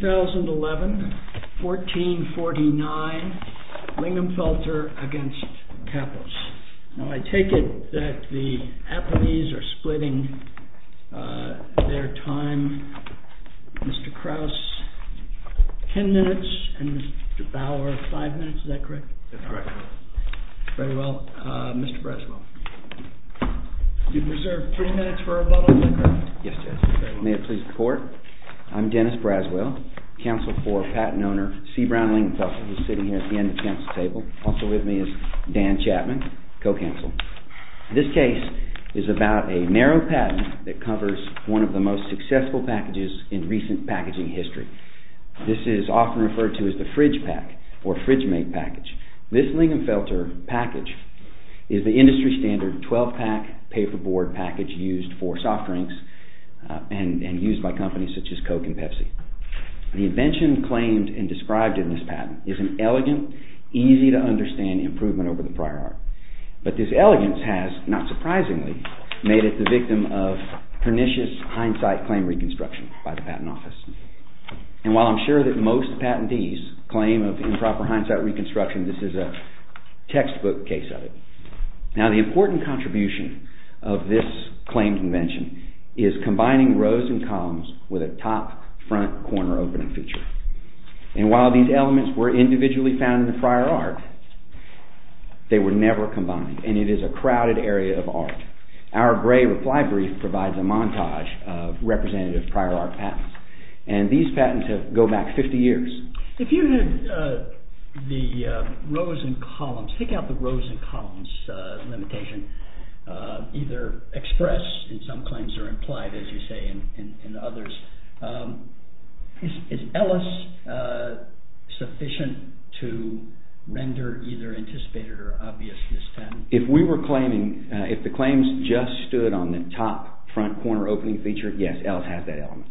2011, 1449, LINGAMFELTER v. KAPPOS. I take it that the apathies are splitting their time. Mr. Krauss, ten minutes, and Mr. Bauer, five minutes. Is that correct? That's correct. Very well. Mr. Braswell. Do you preserve three minutes for a bottle of liquor? Yes, Judge. May it please the Court. I'm Dennis Braswell, counsel for patent owner C. Brown LINGAMFELTER, who is sitting here at the end of the counsel's table. Also with me is Dan Chapman, co-counsel. This case is about a narrow patent that covers one of the most successful packages in recent packaging history. This is often referred to as the fridge pack or fridge mate package. This LINGAMFELTER package is the industry standard 12-pack paperboard package used for soft drinks and used by companies such as Coke and Pepsi. The invention claimed and described in this patent is an elegant, easy-to-understand improvement over the prior art. But this elegance has, not surprisingly, made it the victim of pernicious hindsight claim reconstruction by the Patent Office. And while I'm sure that most patentees claim of improper hindsight reconstruction, this is a textbook case of it. Now, the important contribution of this claimed invention is combining rows and columns with a top, front, corner opening feature. And while these elements were individually found in the prior art, they were never combined, and it is a crowded area of art. Our gray reply brief provides a montage of representative prior art patents, and these patents go back 50 years. If you had the rows and columns, take out the rows and columns limitation, either expressed in some claims or implied, as you say, in others, is Ellis sufficient to render either anticipated or obvious in this patent? If the claims just stood on the top, front, corner opening feature, yes, Ellis has that element.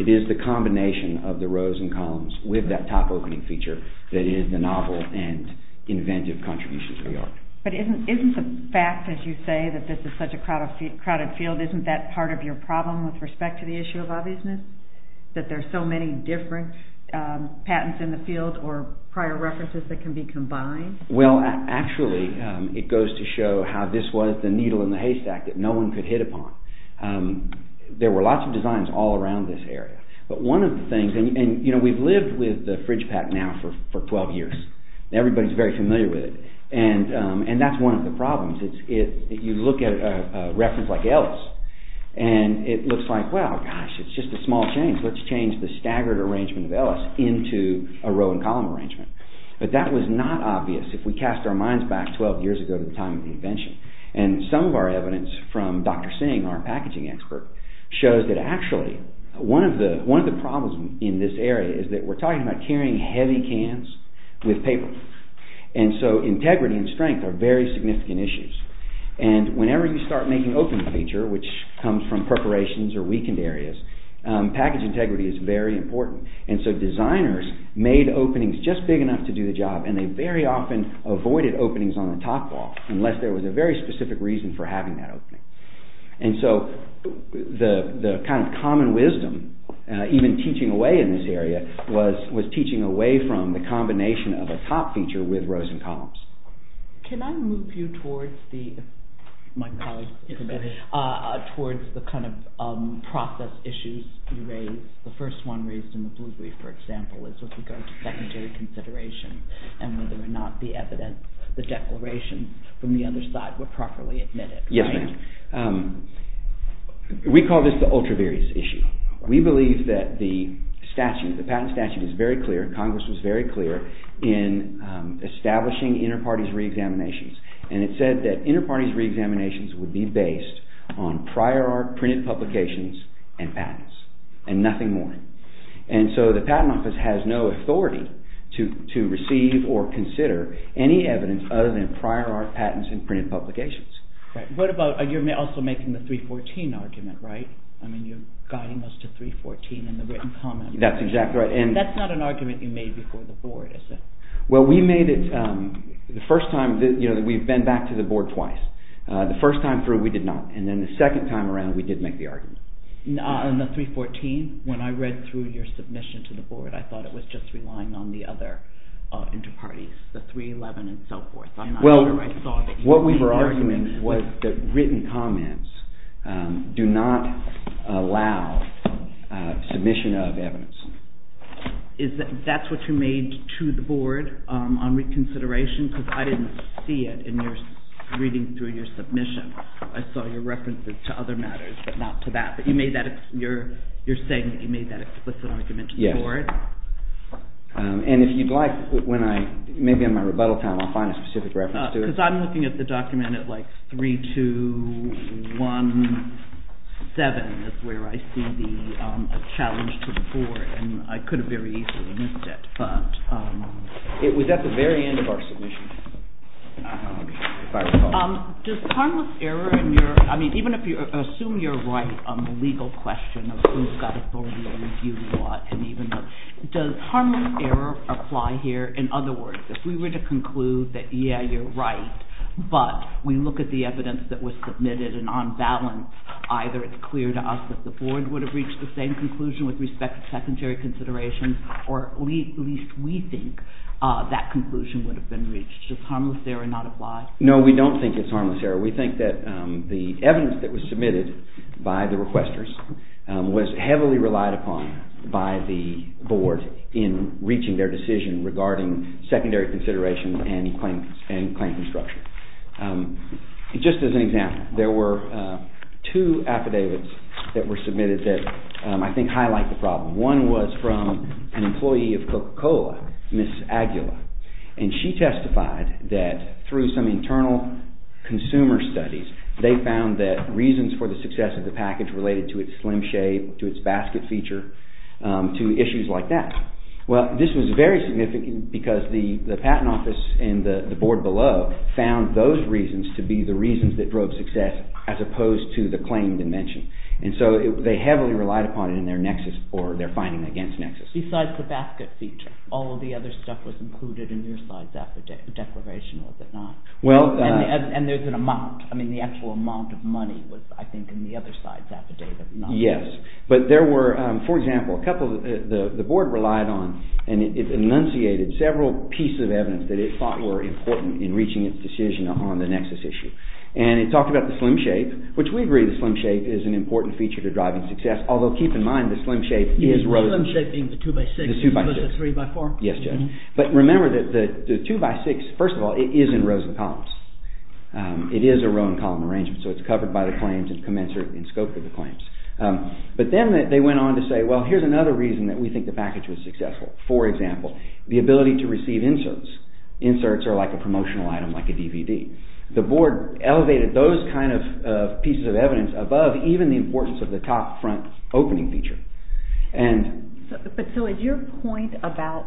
It is the combination of the rows and columns with that top opening feature that is the novel and inventive contribution to the art. But isn't the fact, as you say, that this is such a crowded field, isn't that part of your problem with respect to the issue of obviousness, that there are so many different patents in the field or prior references that can be combined? Well, actually, it goes to show how this was the needle in the haystack that no one could hit upon. There were lots of designs all around this area, but one of the things, and we've lived with the FridgePak now for 12 years. Everybody is very familiar with it, and that's one of the problems. If you look at a reference like Ellis, and it looks like, well, gosh, it's just a small change. Let's change the staggered arrangement of Ellis into a row and column arrangement. But that was not obvious if we cast our minds back 12 years ago to the time of the invention. And some of our evidence from Dr. Singh, our packaging expert, shows that actually one of the problems in this area is that we're talking about carrying heavy cans with paper. And so integrity and strength are very significant issues. And whenever you start making open feature, which comes from perforations or weakened areas, package integrity is very important. And so designers made openings just big enough to do the job, and they very often avoided openings on the top wall unless there was a very specific reason for having that opening. And so the kind of common wisdom, even teaching away in this area, was teaching away from the combination of a top feature with rows and columns. Can I move you towards the process issues you raised? The first one raised in the Blue Brief, for example, is with regard to secondary consideration and whether or not the evidence, the declaration from the other side were properly admitted. Yes, ma'am. We call this the ultra-various issue. We believe that the statute, the patent statute is very clear, Congress was very clear in establishing inter-parties re-examinations. And it said that inter-parties re-examinations would be based on prior art printed publications and patents and nothing more. And so the Patent Office has no authority to receive or consider any evidence other than prior art patents and printed publications. You're also making the 314 argument, right? I mean, you're guiding us to 314 in the written comment. That's exactly right. That's not an argument you made before the Board, is it? Well, we've been back to the Board twice. The first time through, we did not. And then the second time around, we did make the argument. On the 314, when I read through your submission to the Board, I thought it was just relying on the other inter-parties, the 311 and so forth. Well, what we were arguing was that written comments do not allow submission of evidence. That's what you made to the Board on reconsideration? Because I didn't see it in your reading through your submission. I saw your references to other matters, but not to that. But you're saying that you made that explicit argument to the Board? And if you'd like, maybe on my rebuttal time, I'll find a specific reference to it. Because I'm looking at the document at 3217 is where I see the challenge to the Board, and I could have very easily missed it. It was at the very end of our submission. Does harmless error in your – I mean, even if you assume you're right on the legal question of who's got authority over who you want, does harmless error apply here? In other words, if we were to conclude that, yeah, you're right, but we look at the evidence that was submitted and on balance, either it's clear to us that the Board would have reached the same conclusion with respect to secondary considerations, or at least we think that conclusion would have been reached. Does harmless error not apply? No, we don't think it's harmless error. We think that the evidence that was submitted by the requesters was heavily relied upon by the Board in reaching their decision regarding secondary considerations and claim construction. Just as an example, there were two affidavits that were submitted that I think highlight the problem. One was from an employee of Coca-Cola, Ms. Aguila, and she testified that through some internal consumer studies, they found that reasons for the success of the package related to its slim shape, to its basket feature, to issues like that. Well, this was very significant because the Patent Office and the Board below found those reasons to be the reasons that drove success as opposed to the claim dimension, and so they heavily relied upon it in their nexus or their finding against nexus. Besides the basket feature, all of the other stuff was included in your side's affidavit, declaration, was it not? And there's an amount. I mean, the actual amount of money was, I think, in the other side's affidavit. Yes, but there were, for example, the Board relied on and it enunciated several pieces of evidence that it thought were important in reaching its decision on the nexus issue. And it talked about the slim shape, which we agree the slim shape is an important feature to driving success, although keep in mind the slim shape is rather... The slim shape being the 2x6, 3x4? Yes, Judge. But remember that the 2x6, first of all, it is in rows and columns. It is a row and column arrangement, so it's covered by the claims and commensurate in scope with the claims. But then they went on to say, well, here's another reason that we think the package was successful. For example, the ability to receive inserts. Inserts are like a promotional item, like a DVD. The Board elevated those kind of pieces of evidence above even the importance of the top front opening feature. But so is your point about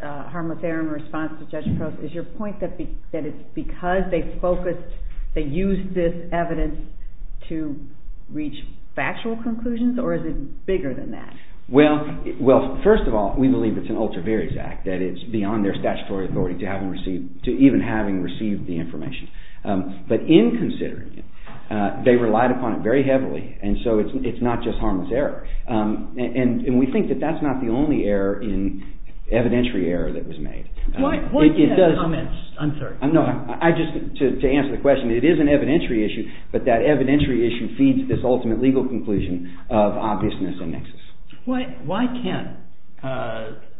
harmless error in response to Judge Probst, is your point that it's because they focused, they used this evidence to reach factual conclusions, or is it bigger than that? Well, first of all, we believe it's an ultra-various act, that it's beyond their statutory authority to even having received the information. But in considering it, they relied upon it very heavily, and so it's not just harmless error. And we think that that's not the only error in, evidentiary error that was made. Why can't comments, I'm sorry. No, I just, to answer the question, it is an evidentiary issue, but that evidentiary issue feeds this ultimate legal conclusion of obviousness and nexus. Why can't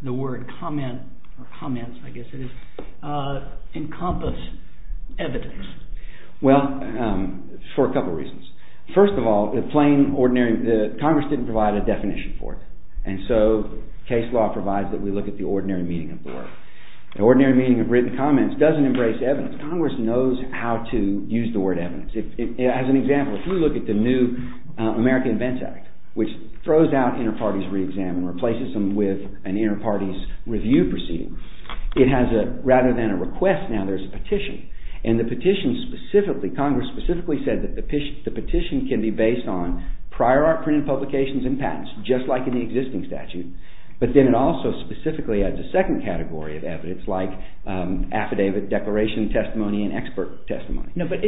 the word comment, or comments, I guess it is, encompass evidence? Well, for a couple reasons. First of all, the plain ordinary, Congress didn't provide a definition for it, and so case law provides that we look at the ordinary meaning of the word. The ordinary meaning of written comments doesn't embrace evidence. Congress knows how to use the word evidence. As an example, if we look at the new American Events Act, which throws out inter-parties re-exam and replaces them with an inter-parties review proceeding, it has a, rather than a request, now there's a petition. And the petition specifically, Congress specifically said that the petition can be based on prior art printed publications and patents, just like in the existing statute. But then it also specifically adds a second category of evidence, like affidavit declaration testimony and expert testimony. No, but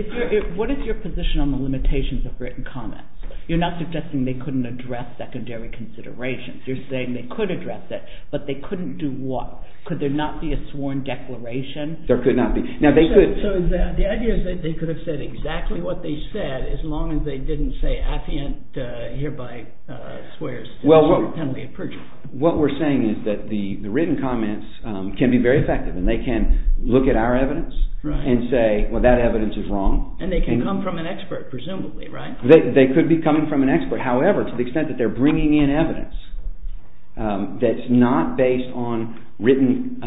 what is your position on the limitations of written comments? You're not suggesting they couldn't address secondary considerations. You're saying they could address it, but they couldn't do what? Could there not be a sworn declaration? There could not be. So the idea is that they could have said exactly what they said, as long as they didn't say affiant hereby swears. Well, what we're saying is that the written comments can be very effective, and they can look at our evidence and say, well, that evidence is wrong. And they can come from an expert, presumably, right? They could be coming from an expert. However, to the extent that they're bringing in evidence that's not based on written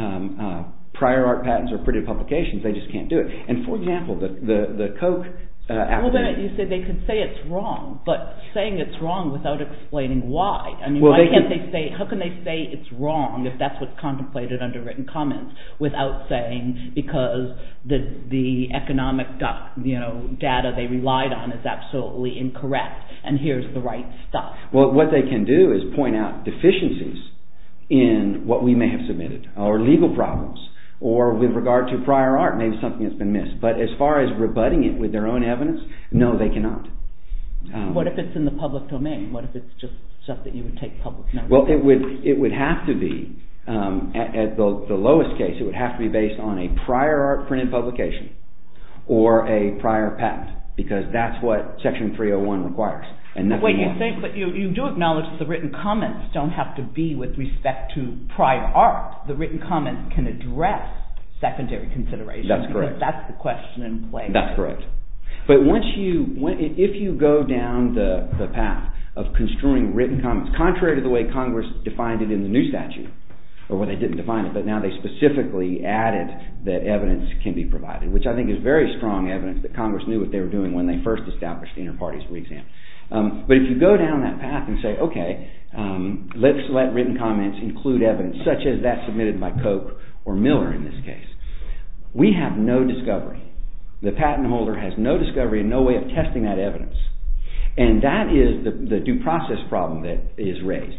prior art patents or printed publications, they just can't do it. And, for example, the Koch affidavit. You said they could say it's wrong, but saying it's wrong without explaining why. How can they say it's wrong, if that's what's contemplated under written comments, without saying because the economic data they relied on is absolutely incorrect, and here's the right stuff? Well, what they can do is point out deficiencies in what we may have submitted, or legal problems, or with regard to prior art, maybe something that's been missed. But as far as rebutting it with their own evidence, no, they cannot. What if it's in the public domain? What if it's just stuff that you would take publicly? Well, it would have to be, at the lowest case, it would have to be based on a prior art printed publication, or a prior patent, because that's what Section 301 requires. But you do acknowledge that the written comments don't have to be with respect to prior art. The written comments can address secondary considerations. That's correct. That's the question in play. That's correct. But once you, if you go down the path of construing written comments, contrary to the way Congress defined it in the new statute, or they didn't define it, but now they specifically added that evidence can be provided, which I think is very strong evidence that Congress knew what they were doing when they first established the inter-parties re-exam. But if you go down that path and say, okay, let's let written comments include evidence, such as that submitted by Koch or Miller in this case, we have no discovery. The patent holder has no discovery and no way of testing that evidence. And that is the due process problem that is raised.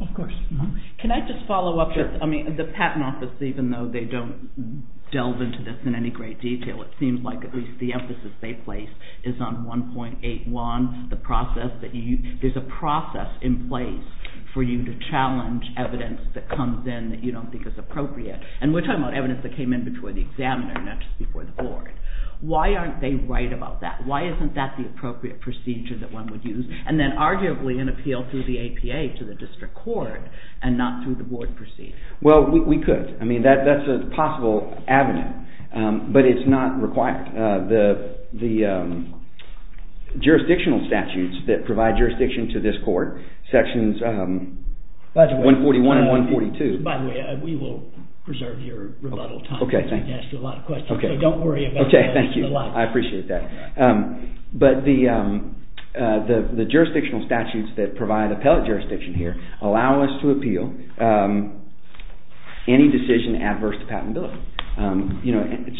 Of course. Can I just follow up? Sure. I mean, the Patent Office, even though they don't delve into this in any great detail, it seems like at least the emphasis they place is on 1.81, the process that you, there's a process in place for you to challenge evidence that comes in that you don't think is appropriate. And we're talking about evidence that came in before the examiner, not just before the board. Why aren't they right about that? Why isn't that the appropriate procedure that one would use? And then arguably an appeal through the APA to the district court and not through the board proceeding. Well, we could. I mean, that's a possible avenue. But it's not required. The jurisdictional statutes that provide jurisdiction to this court, sections 141 and 142. By the way, we will preserve your rebuttal time. Okay. Thank you. Don't worry about it. Okay. Thank you. I appreciate that. But the jurisdictional statutes that provide appellate jurisdiction here allow us to appeal any decision adverse to patentability.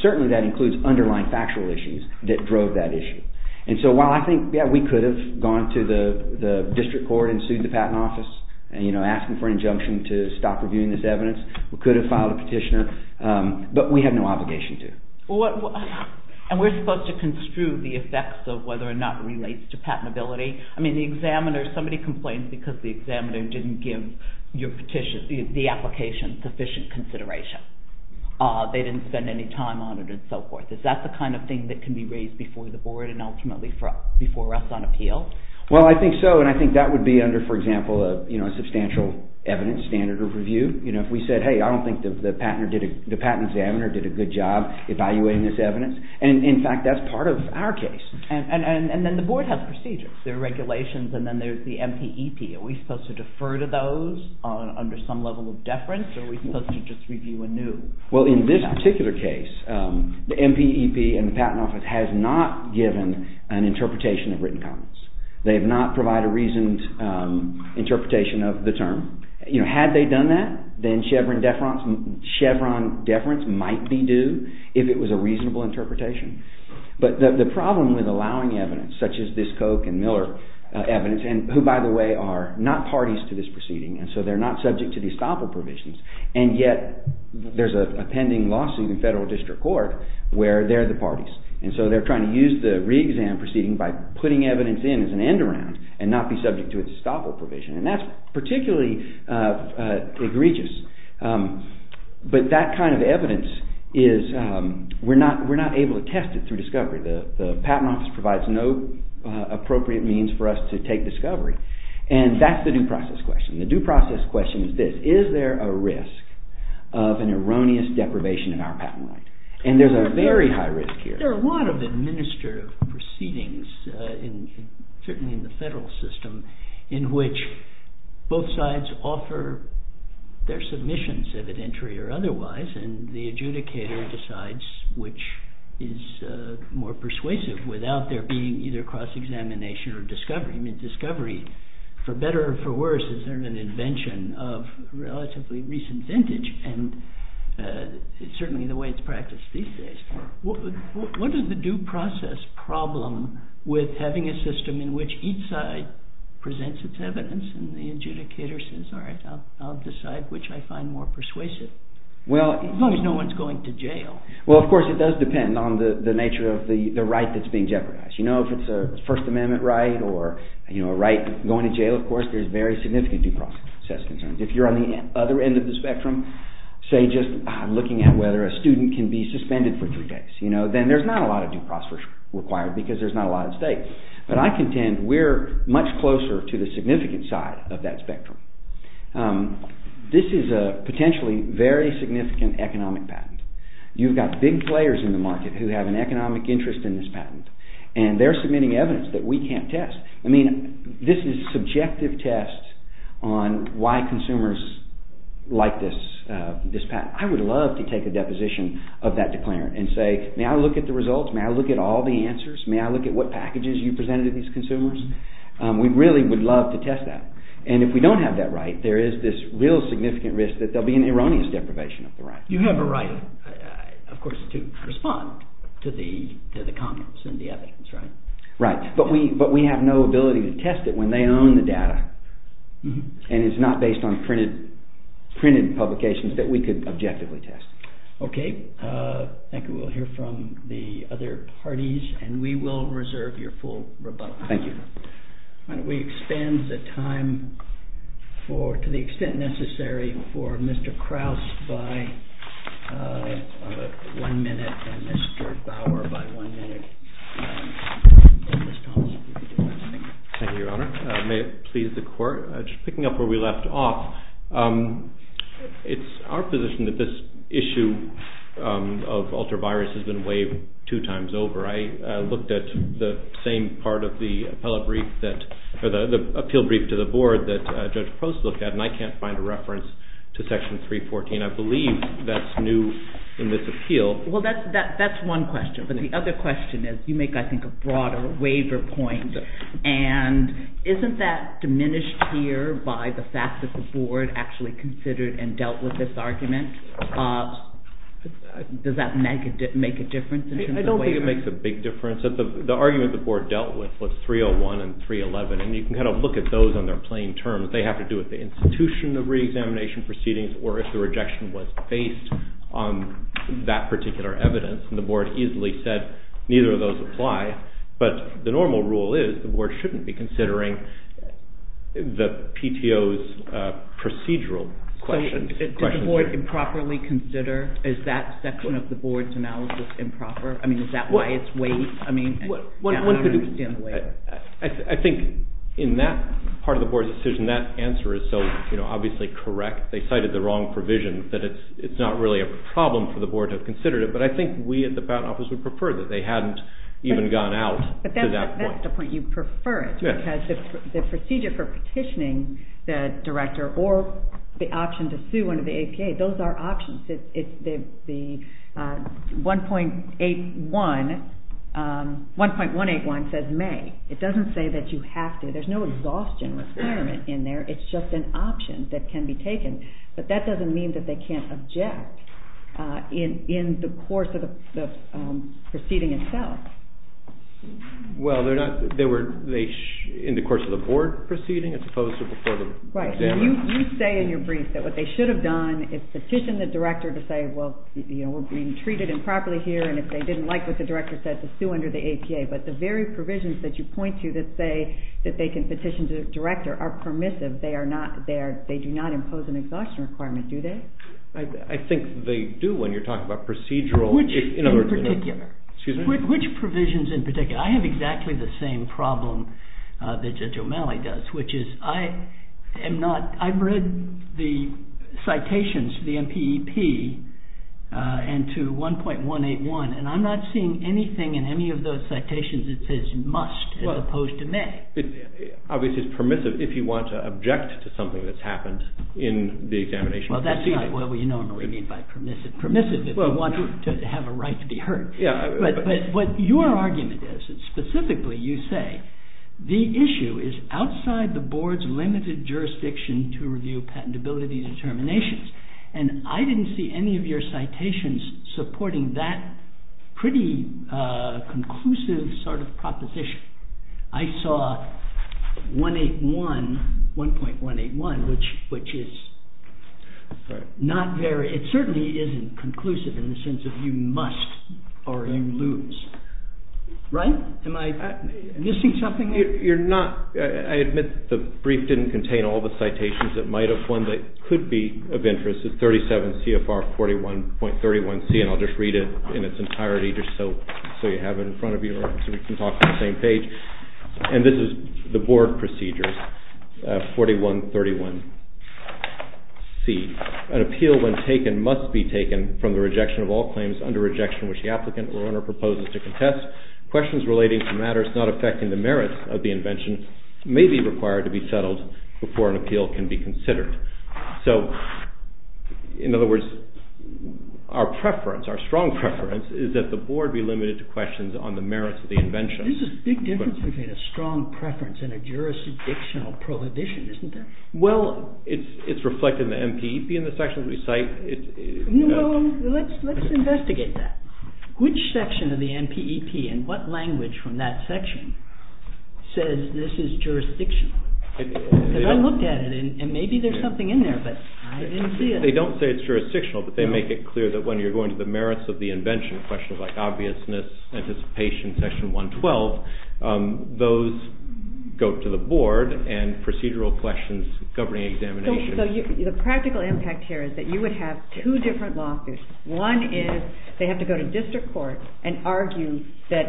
Certainly that includes underlying factual issues that drove that issue. And so while I think, yeah, we could have gone to the district court and sued the patent office, asking for an injunction to stop reviewing this evidence. We could have filed a petitioner. But we have no obligation to. And we're supposed to construe the effects of whether or not it relates to patentability. I mean, the examiner, somebody complains because the examiner didn't give the application sufficient consideration. They didn't spend any time on it and so forth. Is that the kind of thing that can be raised before the board and ultimately before us on appeal? Well, I think so. And I think that would be under, for example, a substantial evidence standard of review. You know, if we said, hey, I don't think the patent examiner did a good job evaluating this evidence. And, in fact, that's part of our case. And then the board has procedures. There are regulations and then there's the MPEP. Are we supposed to defer to those under some level of deference or are we supposed to just review anew? Well, in this particular case, the MPEP and the Patent Office has not given an interpretation of written comments. They have not provided a reasoned interpretation of the term. You know, had they done that, then Chevron deference might be due if it was a reasonable interpretation. But the problem with allowing evidence such as this Koch and Miller evidence, and who, by the way, are not parties to this proceeding, and so they're not subject to the estoppel provisions, and yet there's a pending lawsuit in federal district court where they're the parties. And so they're trying to use the re-exam proceeding by putting evidence in as an end-around and not be subject to an estoppel provision. And that's particularly egregious. But that kind of evidence is we're not able to test it through discovery. The Patent Office provides no appropriate means for us to take discovery. And that's the due process question. The due process question is this. Is there a risk of an erroneous deprivation in our patent right? And there's a very high risk here. There are a lot of administrative proceedings, certainly in the federal system, in which both sides offer their submissions, evidentiary or otherwise, and the adjudicator decides which is more persuasive without there being either cross-examination or discovery. For better or for worse, is there an invention of relatively recent vintage, and it's certainly the way it's practiced these days. What is the due process problem with having a system in which each side presents its evidence and the adjudicator says, all right, I'll decide which I find more persuasive, as long as no one's going to jail? Well, of course, it does depend on the nature of the right that's being jeopardized. You know, if it's a First Amendment right or a right going to jail, of course, there's very significant due process concerns. If you're on the other end of the spectrum, say just looking at whether a student can be suspended for three days, then there's not a lot of due process required because there's not a lot at stake. But I contend we're much closer to the significant side of that spectrum. This is a potentially very significant economic patent. You've got big players in the market who have an economic interest in this patent, and they're submitting evidence that we can't test. I mean, this is a subjective test on why consumers like this patent. I would love to take a deposition of that declarant and say, may I look at the results? May I look at all the answers? May I look at what packages you presented to these consumers? We really would love to test that. And if we don't have that right, there is this real significant risk that there'll be an erroneous deprivation of the right. You have a right, of course, to respond to the comments and the evidence, right? Right, but we have no ability to test it when they own the data, and it's not based on printed publications that we could objectively test. Okay, thank you. We'll hear from the other parties, and we will reserve your full rebuttal. Thank you. Why don't we extend the time to the extent necessary for Mr. Krauss by one minute and Mr. Bauer by one minute. Mr. Thomas, would you like to speak? Thank you, Your Honor. May it please the Court? Just picking up where we left off, it's our position that this issue of ultravirus has been waived two times over. I looked at the same part of the appeal brief to the Board that Judge Post looked at, and I can't find a reference to Section 314. I believe that's new in this appeal. Well, that's one question, but the other question is you make, I think, a broader waiver point. And isn't that diminished here by the fact that the Board actually considered and dealt with this argument? I don't think it makes a big difference. The argument the Board dealt with was 301 and 311, and you can kind of look at those on their plain terms. They have to do with the institution of reexamination proceedings or if the rejection was based on that particular evidence. And the Board easily said neither of those apply. But the normal rule is the Board shouldn't be considering the PTO's procedural questions. Did the Board improperly consider? Is that section of the Board's analysis improper? I mean, is that why it's waived? I think in that part of the Board's decision, that answer is so obviously correct. They cited the wrong provision that it's not really a problem for the Board to have considered it, but I think we at the Patent Office would prefer that they hadn't even gone out to that point. But that's the point. You prefer it because the procedure for petitioning the Director or the option to sue under the APA, those are options. The 1.181 says may. It doesn't say that you have to. There's no exhaustion requirement in there. It's just an option that can be taken. But that doesn't mean that they can't object in the course of the proceeding itself. Well, they were in the course of the Board proceeding as opposed to before the examiner. Right. You say in your brief that what they should have done is petition the Director to say, well, we're being treated improperly here, and if they didn't like what the Director said, to sue under the APA. But the very provisions that you point to that say that they can petition the Director are permissive. They do not impose an exhaustion requirement, do they? I think they do when you're talking about procedural. Which provisions in particular? I have exactly the same problem that Judge O'Malley does. I've read the citations to the MPEP and to 1.181, and I'm not seeing anything in any of those citations that says must as opposed to may. Obviously, it's permissive if you want to object to something that's happened in the examination proceeding. Well, that's not what we normally mean by permissive. Permissive if you want to have a right to be heard. But what your argument is, and specifically you say, the issue is outside the Board's limited jurisdiction to review patentability determinations, and I didn't see any of your citations supporting that pretty conclusive sort of proposition. I saw 1.181, which is not very, it certainly isn't conclusive in the sense of you must or you lose. Right? Am I missing something? You're not, I admit the brief didn't contain all the citations that might have, one that could be of interest is 37 CFR 41.31C, and I'll just read it in its entirety just so you have it in front of you so we can talk on the same page. And this is the Board procedures 41.31C. An appeal when taken must be taken from the rejection of all claims under rejection which the applicant or owner proposes to contest. Questions relating to matters not affecting the merits of the invention may be required to be settled before an appeal can be considered. So, in other words, our preference, our strong preference, is that the Board be limited to questions on the merits of the invention. There's a big difference between a strong preference and a jurisdictional prohibition, isn't there? Well, it's reflected in the NPEP in the sections we cite. Well, let's investigate that. Which section of the NPEP and what language from that section says this is jurisdictional? I looked at it and maybe there's something in there, but I didn't see it. They don't say it's jurisdictional, but they make it clear that when you're going to the merits of the invention, questions like obviousness, anticipation, section 112, those go to the Board and procedural questions governing examinations. So the practical impact here is that you would have two different lawsuits. One is they have to go to district court and argue that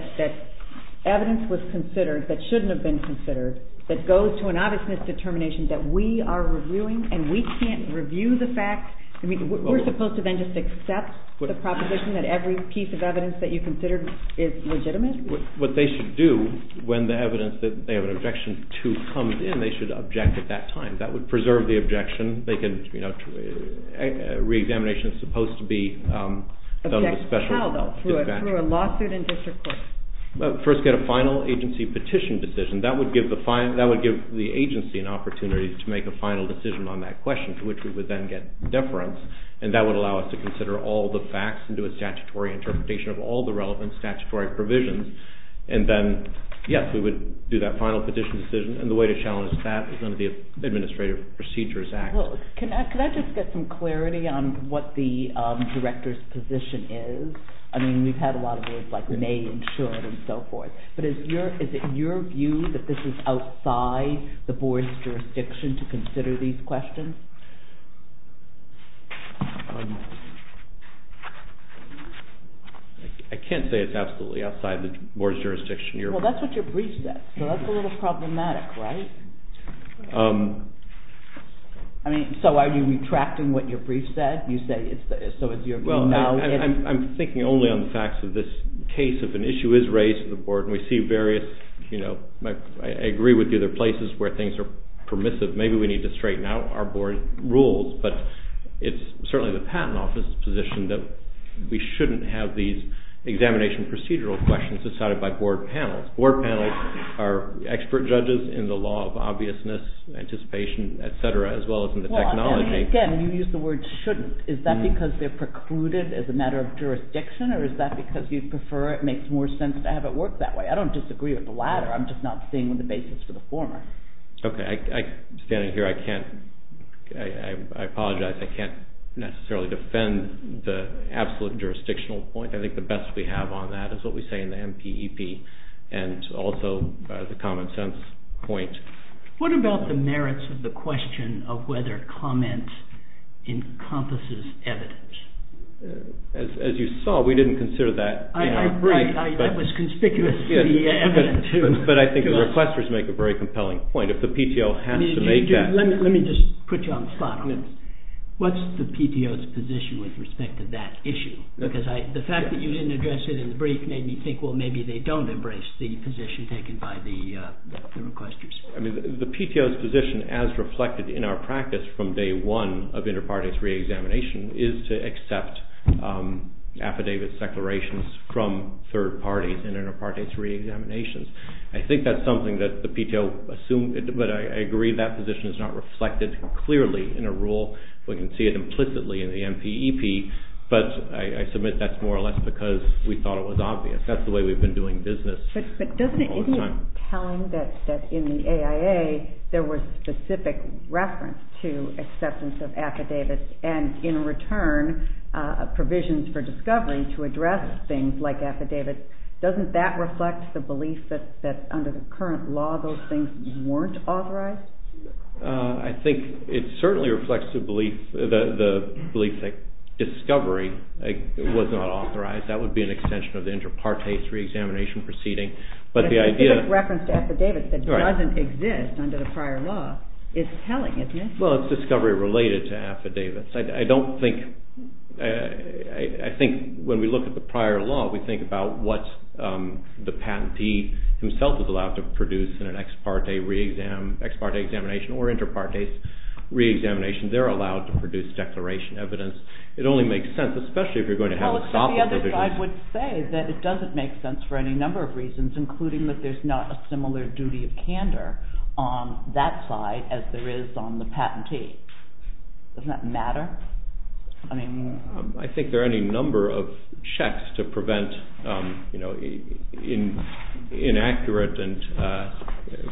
evidence was considered that shouldn't have been considered that goes to an obviousness determination that we are reviewing and we can't review the facts. We're supposed to then just accept the proposition that every piece of evidence that you considered is legitimate? What they should do when the evidence that they have an objection to comes in, they should object at that time. That would preserve the objection. Re-examination is supposed to be done with special help. Object how, though, through a lawsuit in district court? First get a final agency petition decision. That would give the agency an opportunity to make a final decision on that question, to which we would then get deference, and that would allow us to consider all the facts and do a statutory interpretation of all the relevant statutory provisions. And then, yes, we would do that final petition decision, and the way to challenge that is under the Administrative Procedures Act. Can I just get some clarity on what the director's position is? I mean, we've had a lot of words like may and should and so forth, but is it your view that this is outside the board's jurisdiction to consider these questions? I can't say it's absolutely outside the board's jurisdiction. Well, that's what your brief said, so that's a little problematic, right? I mean, so are you retracting what your brief said? You say so it's your view now? I'm thinking only on the facts of this case. If an issue is raised to the board and we see various, you know, I agree with you there are places where things are permissive. Maybe we need to straighten out our board rules, but it's certainly the Patent Office's position that we shouldn't have these examination procedural questions decided by board panels. Board panels are expert judges in the law of obviousness, anticipation, et cetera, as well as in the technology. Again, you used the word shouldn't. Is that because they're precluded as a matter of jurisdiction or is that because you prefer it makes more sense to have it work that way? I don't disagree with the latter. I'm just not seeing the basis for the former. Okay. Standing here, I apologize. I can't necessarily defend the absolute jurisdictional point. I think the best we have on that is what we say in the MPEP and also the common sense point. What about the merits of the question of whether comment encompasses evidence? As you saw, we didn't consider that. I agree. That was conspicuous to the evidence. But I think the requesters make a very compelling point. If the PTO has to make that. Let me just put you on the spot. What's the PTO's position with respect to that issue? Because the fact that you didn't address it in the brief made me think, well, maybe they don't embrace the position taken by the requesters. The PTO's position as reflected in our practice from day one of inter-parties reexamination is to accept affidavit declarations from third parties in inter-parties reexaminations. I think that's something that the PTO assumed, but I agree that position is not reflected clearly in a rule. We can see it implicitly in the MPEP, but I submit that's more or less because we thought it was obvious. That's the way we've been doing business all this time. But isn't it telling that in the AIA there was specific reference to acceptance of affidavits and in return provisions for discovery to address things like affidavits? Doesn't that reflect the belief that under the current law those things weren't authorized? I think it certainly reflects the belief that discovery was not authorized. That would be an extension of the inter-parties reexamination proceeding. But a specific reference to affidavits that doesn't exist under the prior law is telling, isn't it? Well, it's discovery related to affidavits. I think when we look at the prior law we think about what the patentee himself is allowed to produce in an ex-parte examination or inter-parties reexamination. They're allowed to produce declaration evidence. It only makes sense, especially if you're going to have a copy of it. I would say that it doesn't make sense for any number of reasons, including that there's not a similar duty of candor on that side as there is on the patentee. Doesn't that matter? I think there are any number of checks to prevent inaccurate and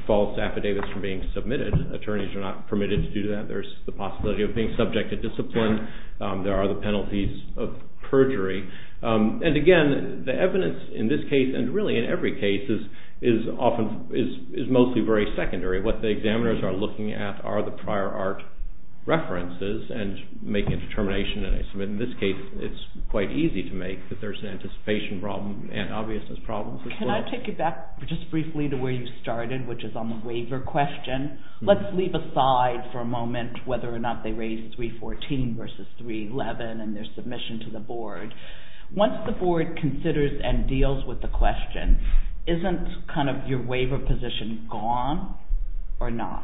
false affidavits from being submitted. Attorneys are not permitted to do that. There's the possibility of being subject to discipline. There are the penalties of perjury. And again, the evidence in this case and really in every case is mostly very secondary. What the examiners are looking at are the prior art references and making a determination. In this case, it's quite easy to make that there's an anticipation problem and obviousness problems as well. Can I take you back just briefly to where you started, which is on the waiver question? Let's leave aside for a moment whether or not they raised 314 versus 311 in their submission to the board. Once the board considers and deals with the question, isn't kind of your waiver position gone or not?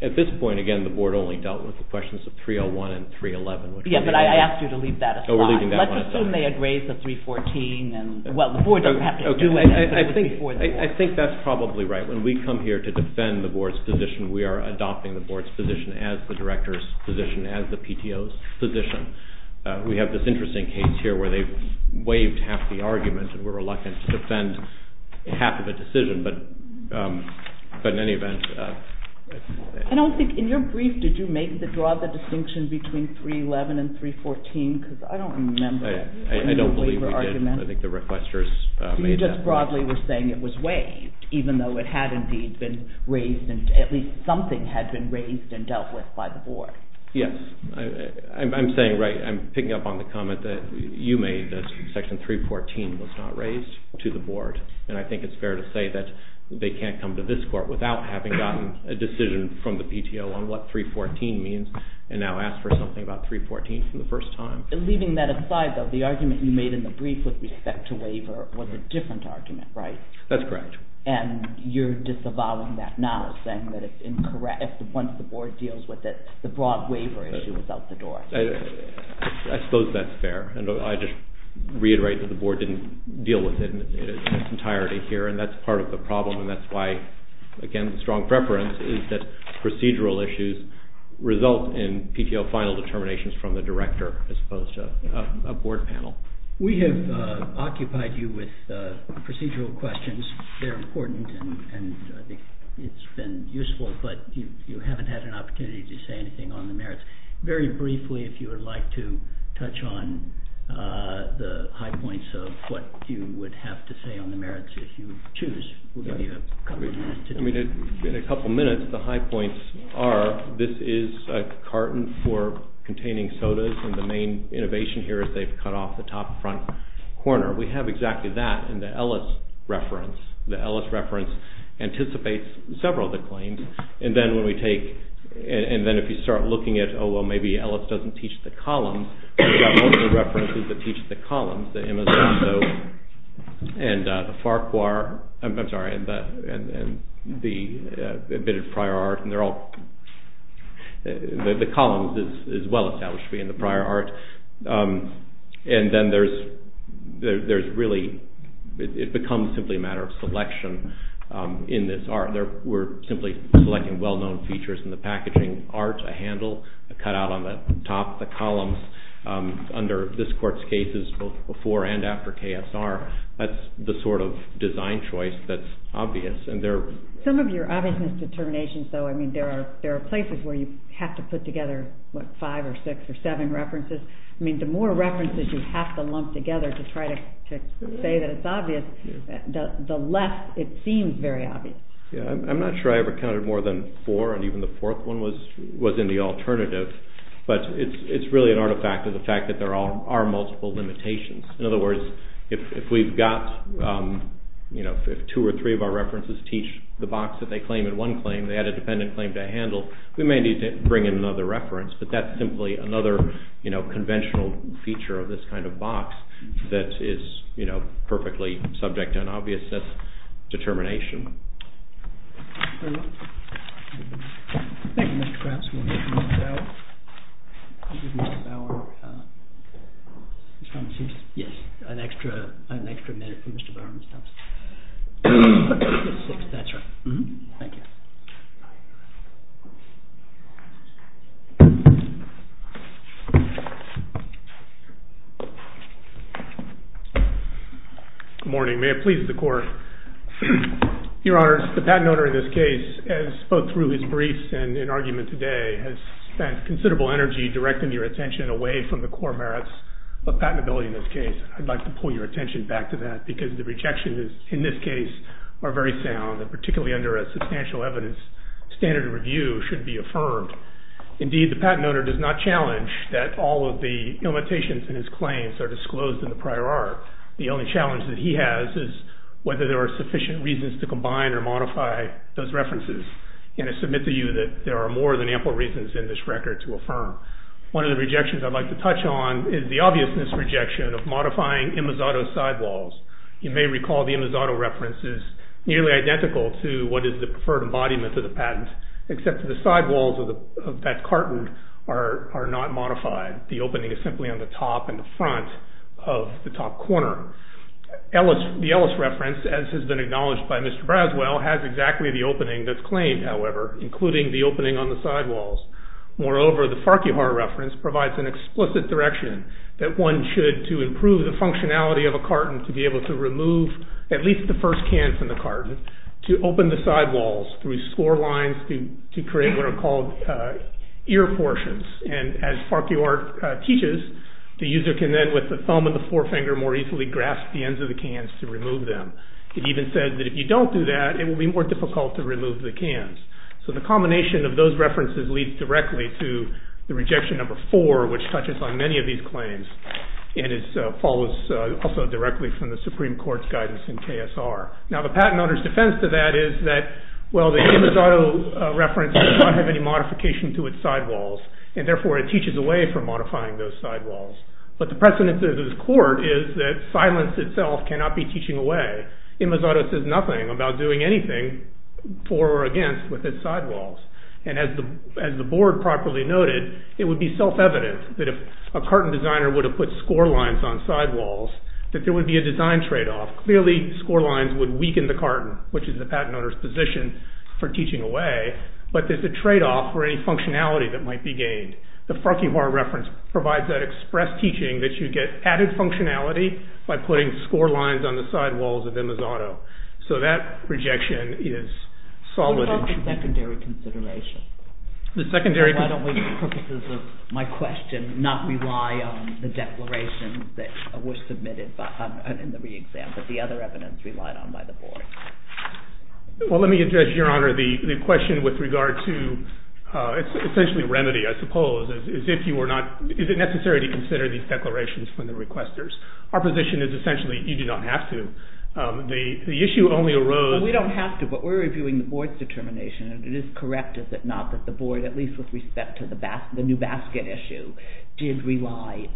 At this point, again, the board only dealt with the questions of 301 and 311. Yeah, but I asked you to leave that aside. Let's assume they had raised the 314. I think that's probably right. When we come here to defend the board's position, we are adopting the board's position as the director's position, as the PTO's position. We have this interesting case here where they've waived half the argument and we're reluctant to defend half of the decision, but in any event. I don't think in your brief, did you make the draw the distinction between 311 and 314? I don't believe we did. I think the requesters made that. You just broadly were saying it was waived, even though it had indeed been raised, at least something had been raised and dealt with by the board. Yes. I'm picking up on the comment that you made, that Section 314 was not raised to the board. I think it's fair to say that they can't come to this court without having gotten a decision from the PTO on what 314 means and now ask for something about 314 for the first time. Leaving that aside, though, the argument you made in the brief with respect to waiver was a different argument, right? That's correct. And you're disavowing that now, saying that once the board deals with it, the broad waiver issue is out the door. I suppose that's fair. I just reiterate that the board didn't deal with it in its entirety here, and that's part of the problem. That's why, again, the strong preference is that procedural issues result in PTO final determinations from the director as opposed to a board panel. We have occupied you with procedural questions. They're important, and I think it's been useful, but you haven't had an opportunity to say anything on the merits. Very briefly, if you would like to touch on the high points of what you would have to say on the merits if you choose, In a couple minutes, the high points are this is a carton for containing sodas, and the main innovation here is they've cut off the top front corner. We have exactly that in the Ellis reference. The Ellis reference anticipates several of the claims, and then if you start looking at, oh, well, maybe Ellis doesn't teach the columns, we have multiple references that teach the columns, and the Farquhar, I'm sorry, and the prior art, and they're all, the columns is well established to be in the prior art, and then there's really, it becomes simply a matter of selection in this art. We're simply selecting well-known features in the packaging, art, a handle, a cutout on the top, the columns. Under this court's cases, both before and after KSR, that's the sort of design choice that's obvious. Some of your obviousness determinations, though, I mean, there are places where you have to put together five or six or seven references. I mean, the more references you have to lump together to try to say that it's obvious, the less it seems very obvious. I'm not sure I ever counted more than four, and even the fourth one was in the alternative, but it's really an artifact of the fact that there are multiple limitations. In other words, if we've got, if two or three of our references teach the box that they claim in one claim, they had a dependent claim to handle, we may need to bring in another reference, but that's simply another conventional feature of this kind of box that is perfectly subject to an obviousness determination. Very well. Thank you, Mr. Krause. We'll give Mr. Bauer, yes, an extra minute for Mr. Bauer. That's right. Thank you. Good morning. May it please the Court. Your Honors, the patent owner in this case, as spoke through his briefs and in argument today, has spent considerable energy directing your attention away from the core merits of patentability in this case. I'd like to pull your attention back to that because the rejections in this case are very sound, and particularly under a substantial evidence standard of review should be affirmed. Indeed, the patent owner does not challenge that all of the limitations in his claims are disclosed in the prior art. The only challenge that he has is whether there are sufficient reasons to combine or modify those references, and I submit to you that there are more than ample reasons in this record to affirm. One of the rejections I'd like to touch on is the obviousness rejection of modifying Imizado sidewalls. You may recall the Imizado reference is nearly identical to what is the preferred embodiment of the patent, except that the sidewalls of that carton are not modified. The opening is simply on the top and the front of the top corner. The Ellis reference, as has been acknowledged by Mr. Braswell, has exactly the opening that's claimed, however, including the opening on the sidewalls. Moreover, the Farquhar reference provides an explicit direction that one should, to improve the functionality of a carton, to be able to remove at least the first can from the carton, to open the sidewalls through score lines to create what are called ear portions. And as Farquhar teaches, the user can then, with the thumb and the forefinger, more easily grasp the ends of the cans to remove them. It even says that if you don't do that, it will be more difficult to remove the cans. So the combination of those references leads directly to the rejection number four, which touches on many of these claims. And it follows also directly from the Supreme Court's guidance in KSR. Now the patent owner's defense to that is that, well, the Imazato reference does not have any modification to its sidewalls, and therefore it teaches away from modifying those sidewalls. But the precedence of this court is that silence itself cannot be teaching away. Imazato says nothing about doing anything for or against with its sidewalls. And as the board properly noted, it would be self-evident that if a carton designer would have put score lines on sidewalls, that there would be a design tradeoff. Clearly, score lines would weaken the carton, which is the patent owner's position for teaching away, but there's a tradeoff for any functionality that might be gained. The Farquhar reference provides that express teaching that you get added functionality by putting score lines on the sidewalls of Imazato. So that rejection is solid and true. Secondary consideration. Why don't we, for the purposes of my question, not rely on the declarations that were submitted in the re-exam, but the other evidence relied on by the board? Well, let me address, Your Honor, the question with regard to essentially remedy, I suppose. Is it necessary to consider these declarations from the requesters? Our position is essentially you do not have to. The issue only arose... It is correct, is it not, that the board, at least with respect to the new basket issue, did rely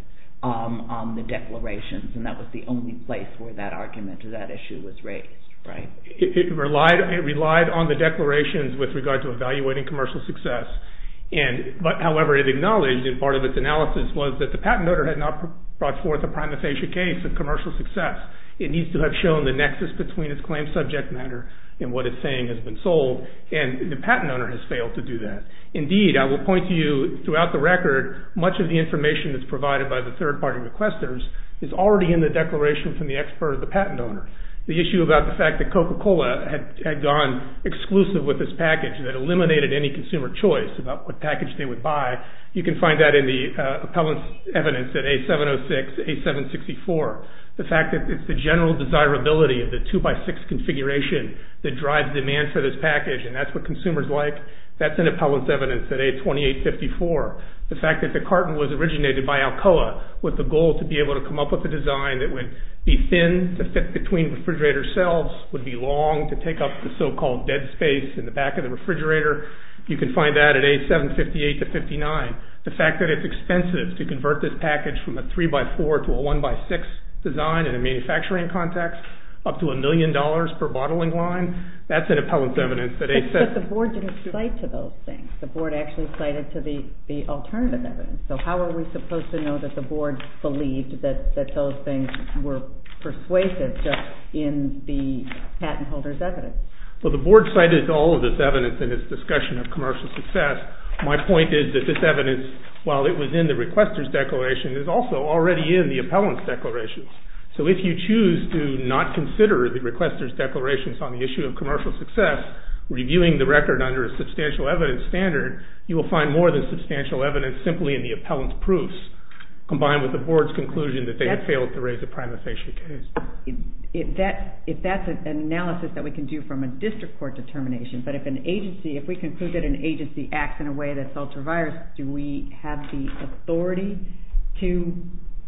on the declarations, and that was the only place where that argument to that issue was raised, right? It relied on the declarations with regard to evaluating commercial success. However, it acknowledged, and part of its analysis was that the patent owner had not brought forth a prima facie case of commercial success. It needs to have shown the nexus between its claims subject matter and what it's saying has been sold. And the patent owner has failed to do that. Indeed, I will point to you throughout the record, much of the information that's provided by the third-party requesters is already in the declaration from the expert or the patent owner. The issue about the fact that Coca-Cola had gone exclusive with this package that eliminated any consumer choice about what package they would buy, you can find that in the appellant's evidence at A706, A764. The fact that it's the general desirability of the 2x6 configuration that drives demand for this package, and that's what consumers like, that's in appellant's evidence at A2854. The fact that the carton was originated by Alcoa with the goal to be able to come up with a design that would be thin to fit between refrigerator cells, would be long to take up the so-called dead space in the back of the refrigerator, you can find that at A758 to 59. The fact that it's expensive to convert this package from a 3x4 to a 1x6 design in a manufacturing context up to a million dollars per bottling line, that's in appellant's evidence at A706. But the board didn't cite to those things. The board actually cited to the alternative evidence. So how are we supposed to know that the board believed that those things were persuasive just in the patent holder's evidence? Well, the board cited all of this evidence in its discussion of commercial success. My point is that this evidence, while it was in the requester's declaration, is also already in the appellant's declaration. So if you choose to not consider the requester's declaration on the issue of commercial success, reviewing the record under a substantial evidence standard, you will find more than substantial evidence simply in the appellant's proofs, combined with the board's conclusion that they had failed to raise a prima facie case. If that's an analysis that we can do from a district court determination, but if an agency, if we conclude that an agency acts in a way that's ultra-virus, do we have the authority to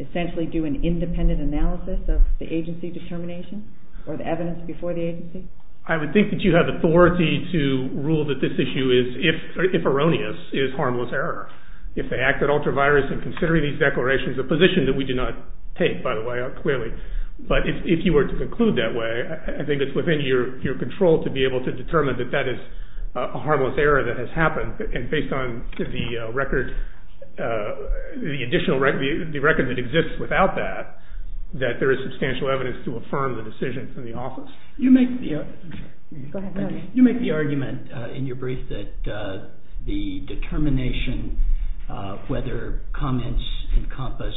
essentially do an independent analysis of the agency determination or the evidence before the agency? I would think that you have authority to rule that this issue is, if erroneous, is harmless error. If they act at ultra-virus in considering these declarations, a position that we do not take, by the way, clearly. But if you were to conclude that way, I think it's within your control to be able to determine that that is a harmless error that has happened. And based on the record that exists without that, that there is substantial evidence to affirm the decision from the office. You make the argument in your brief that the determination of whether comments encompass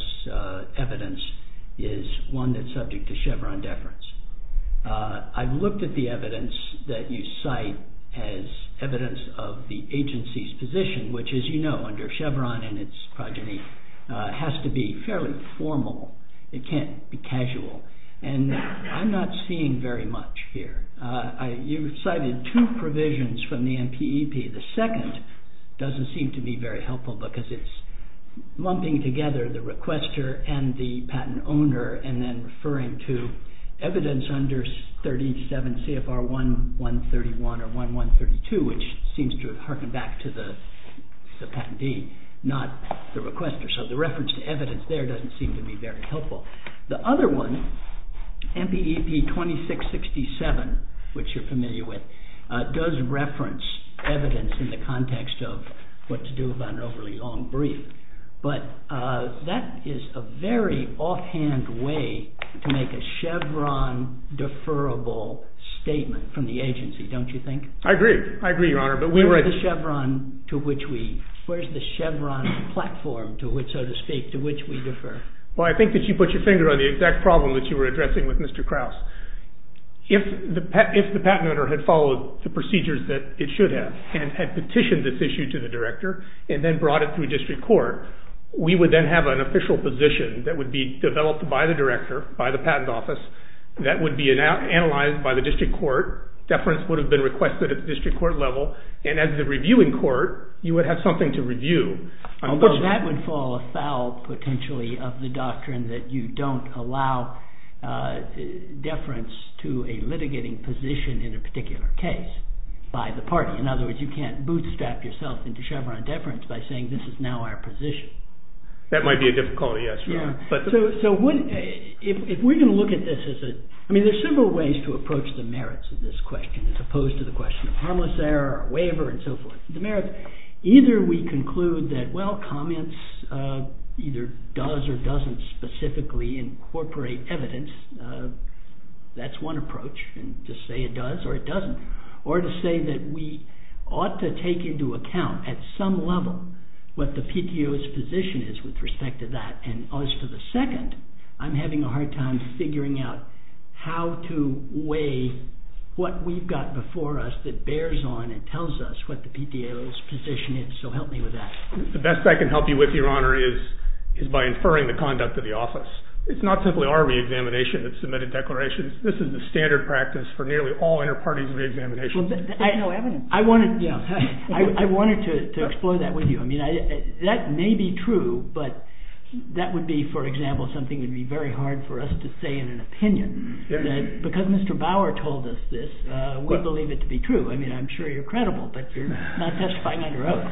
evidence is one that's subject to Chevron deference. I've looked at the evidence that you cite as evidence of the agency's position, which, as you know, under Chevron and its progeny, has to be fairly formal. It can't be casual. And I'm not seeing very much here. You've cited two provisions from the NPEP. The second doesn't seem to be very helpful because it's lumping together the requester and the patent owner and then referring to evidence under 37 CFR 1131 or 1132, which seems to harken back to the patentee, not the requester. So the reference to evidence there doesn't seem to be very helpful. The other one, NPEP 2667, which you're familiar with, does reference evidence in the context of what to do about an overly long brief. But that is a very offhand way to make a Chevron-deferrable statement from the agency, don't you think? I agree. I agree, Your Honor. Where is the Chevron platform, so to speak, to which we defer? Well, I think that you put your finger on the exact problem that you were addressing with Mr. Krauss. If the patent owner had followed the procedures that it should have and had petitioned this issue to the director and then brought it through district court, we would then have an official position that would be developed by the director, by the patent office, that would be analyzed by the district court. Deference would have been requested at the district court level. And as the reviewing court, you would have something to review. Although that would fall afoul, potentially, of the doctrine that you don't allow deference to a litigating position in a particular case by the party. In other words, you can't bootstrap yourself into Chevron deference by saying this is now our position. That might be a difficulty, yes, Your Honor. So if we're going to look at this as a... I mean, there are several ways to approach the merits of this question as opposed to the question of harmless error, waiver, and so forth. The merits, either we conclude that, well, comments either does or doesn't specifically incorporate evidence. That's one approach, to say it does or it doesn't. Or to say that we ought to take into account at some level what the PTO's position is with respect to that. And as for the second, I'm having a hard time figuring out how to weigh what we've got before us that bears on and tells us what the PTO's position is. So help me with that. The best I can help you with, Your Honor, is by inferring the conduct of the office. It's not simply our reexamination that submitted declarations. This is the standard practice for nearly all inter-parties reexamination. There's no evidence. I wanted to explore that with you. I mean, that may be true, but that would be, for example, something that would be very hard for us to say in an opinion. Because Mr. Bauer told us this, we believe it to be true. I mean, I'm sure you're credible, but you're not testifying under oath.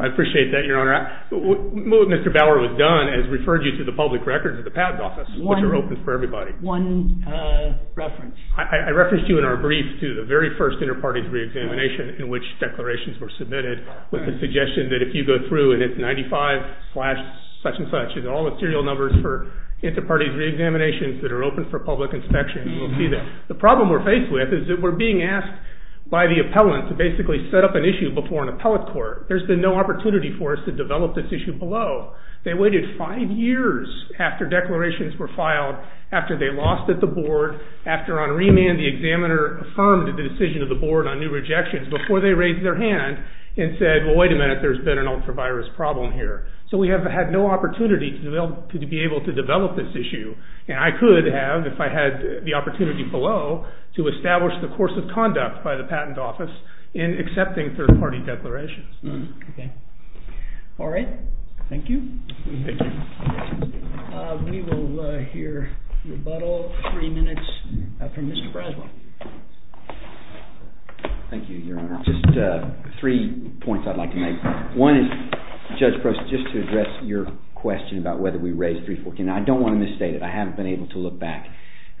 I appreciate that, Your Honor. What Mr. Bauer has done is referred you to the public records of the Patent Office, which are open for everybody. One reference. I referenced you in our brief to the very first inter-parties reexamination in which declarations were submitted with the suggestion that if you go through and it's 95 slash such and such, it's all the serial numbers for inter-parties reexaminations that are open for public inspection. We'll see that. The problem we're faced with is that we're being asked by the appellant to basically set up an issue before an appellate court. There's been no opportunity for us to develop this issue below. They waited five years after declarations were filed, after they lost at the board, after on remand the examiner affirmed the decision of the board on new rejections before they raised their hand and said, well, wait a minute, there's been an ultra-virus problem here. So we have had no opportunity to be able to develop this issue. And I could have if I had the opportunity below to establish the course of conduct by the Patent Office in accepting third-party declarations. All right. Thank you. We will hear rebuttal in three minutes from Mr. Braswell. Thank you, Your Honor. Just three points I'd like to make. One is, Judge Prosser, just to address your question about whether we raised 314. I don't want to misstate it. I haven't been able to look back.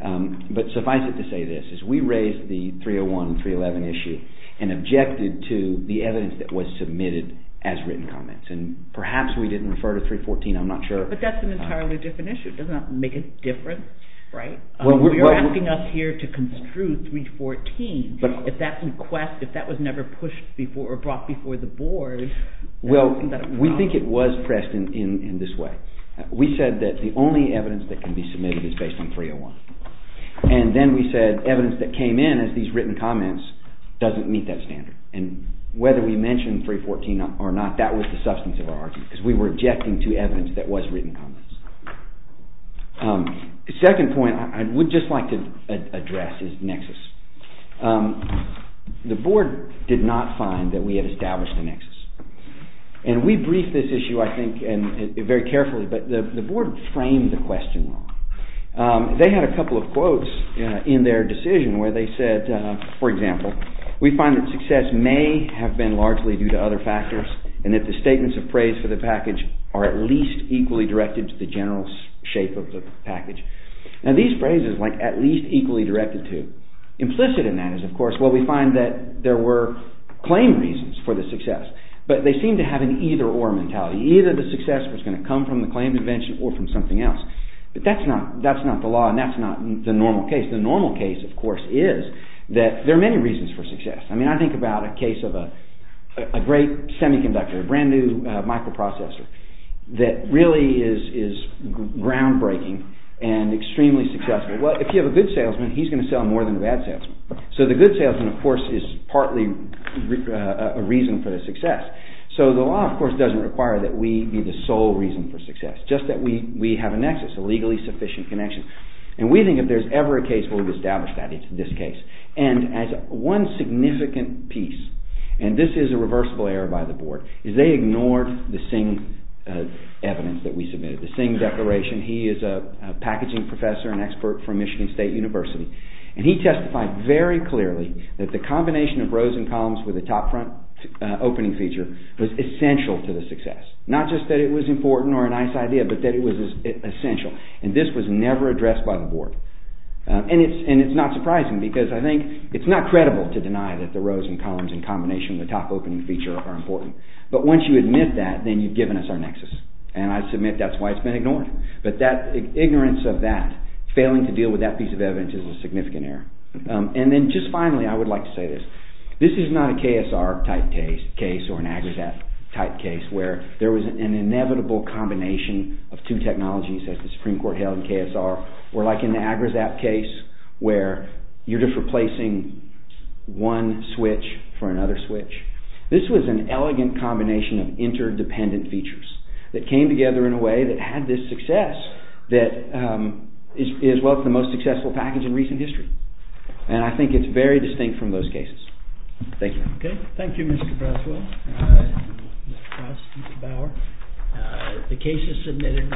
But suffice it to say this. We raised the 301 and 311 issue and objected to the evidence that was submitted as written comments. And perhaps we didn't refer to 314. I'm not sure. But that's an entirely different issue. It does not make a difference, right? You're asking us here to construe 314. If that request, if that was never pushed before or brought before the board, is that a problem? Well, we think it was pressed in this way. We said that the only evidence that can be submitted is based on 301. And then we said evidence that came in as these written comments doesn't meet that standard. And whether we mentioned 314 or not, that was the substance of our argument. Because we were objecting to evidence that was written comments. The second point I would just like to address is nexus. The board did not find that we had established a nexus. And we briefed this issue, I think, very carefully. But the board framed the question wrong. They had a couple of quotes in their decision where they said, for example, we find that success may have been largely due to other factors and that the statements of praise for the package are at least equally directed to the general shape of the package. Now, these phrases, like at least equally directed to, implicit in that is, of course, well, we find that there were claim reasons for the success. But they seem to have an either-or mentality. Either the success was going to come from the claim invention or from something else. But that's not the law and that's not the normal case. The normal case, of course, is that there are many reasons for success. I mean, I think about a case of a great semiconductor, a brand-new microprocessor, that really is groundbreaking and extremely successful. Well, if you have a good salesman, he's going to sell more than a bad salesman. So the good salesman, of course, is partly a reason for the success. So the law, of course, doesn't require that we be the sole reason for success, just that we have a nexus, a legally sufficient connection. And we think if there's ever a case where we've established that, it's this case. And as one significant piece, and this is a reversible error by the board, is they ignored the Singh evidence that we submitted, the Singh Declaration. He is a packaging professor, an expert from Michigan State University. And he testified very clearly that the combination of rows and columns with a top-front opening feature was essential to the success. Not just that it was important or a nice idea, but that it was essential. And this was never addressed by the board. And it's not surprising, because I think it's not credible to deny that the rows and columns in combination with the top-opening feature are important. But once you admit that, then you've given us our nexus. And I submit that's why it's been ignored. But that ignorance of that, failing to deal with that piece of evidence, is a significant error. And then just finally, I would like to say this. This is not a KSR-type case or an Agra-type case, where there was an inevitable combination of two technologies, as the Supreme Court held in KSR, or like in the Agrasap case, where you're just replacing one switch for another switch. This was an elegant combination of interdependent features that came together in a way that had this success that is what the most successful package in recent history. And I think it's very distinct from those cases. Thank you. Okay. Thank you, Mr. Braswell. Mr. Krause, Mr. Bauer. The case is submitted.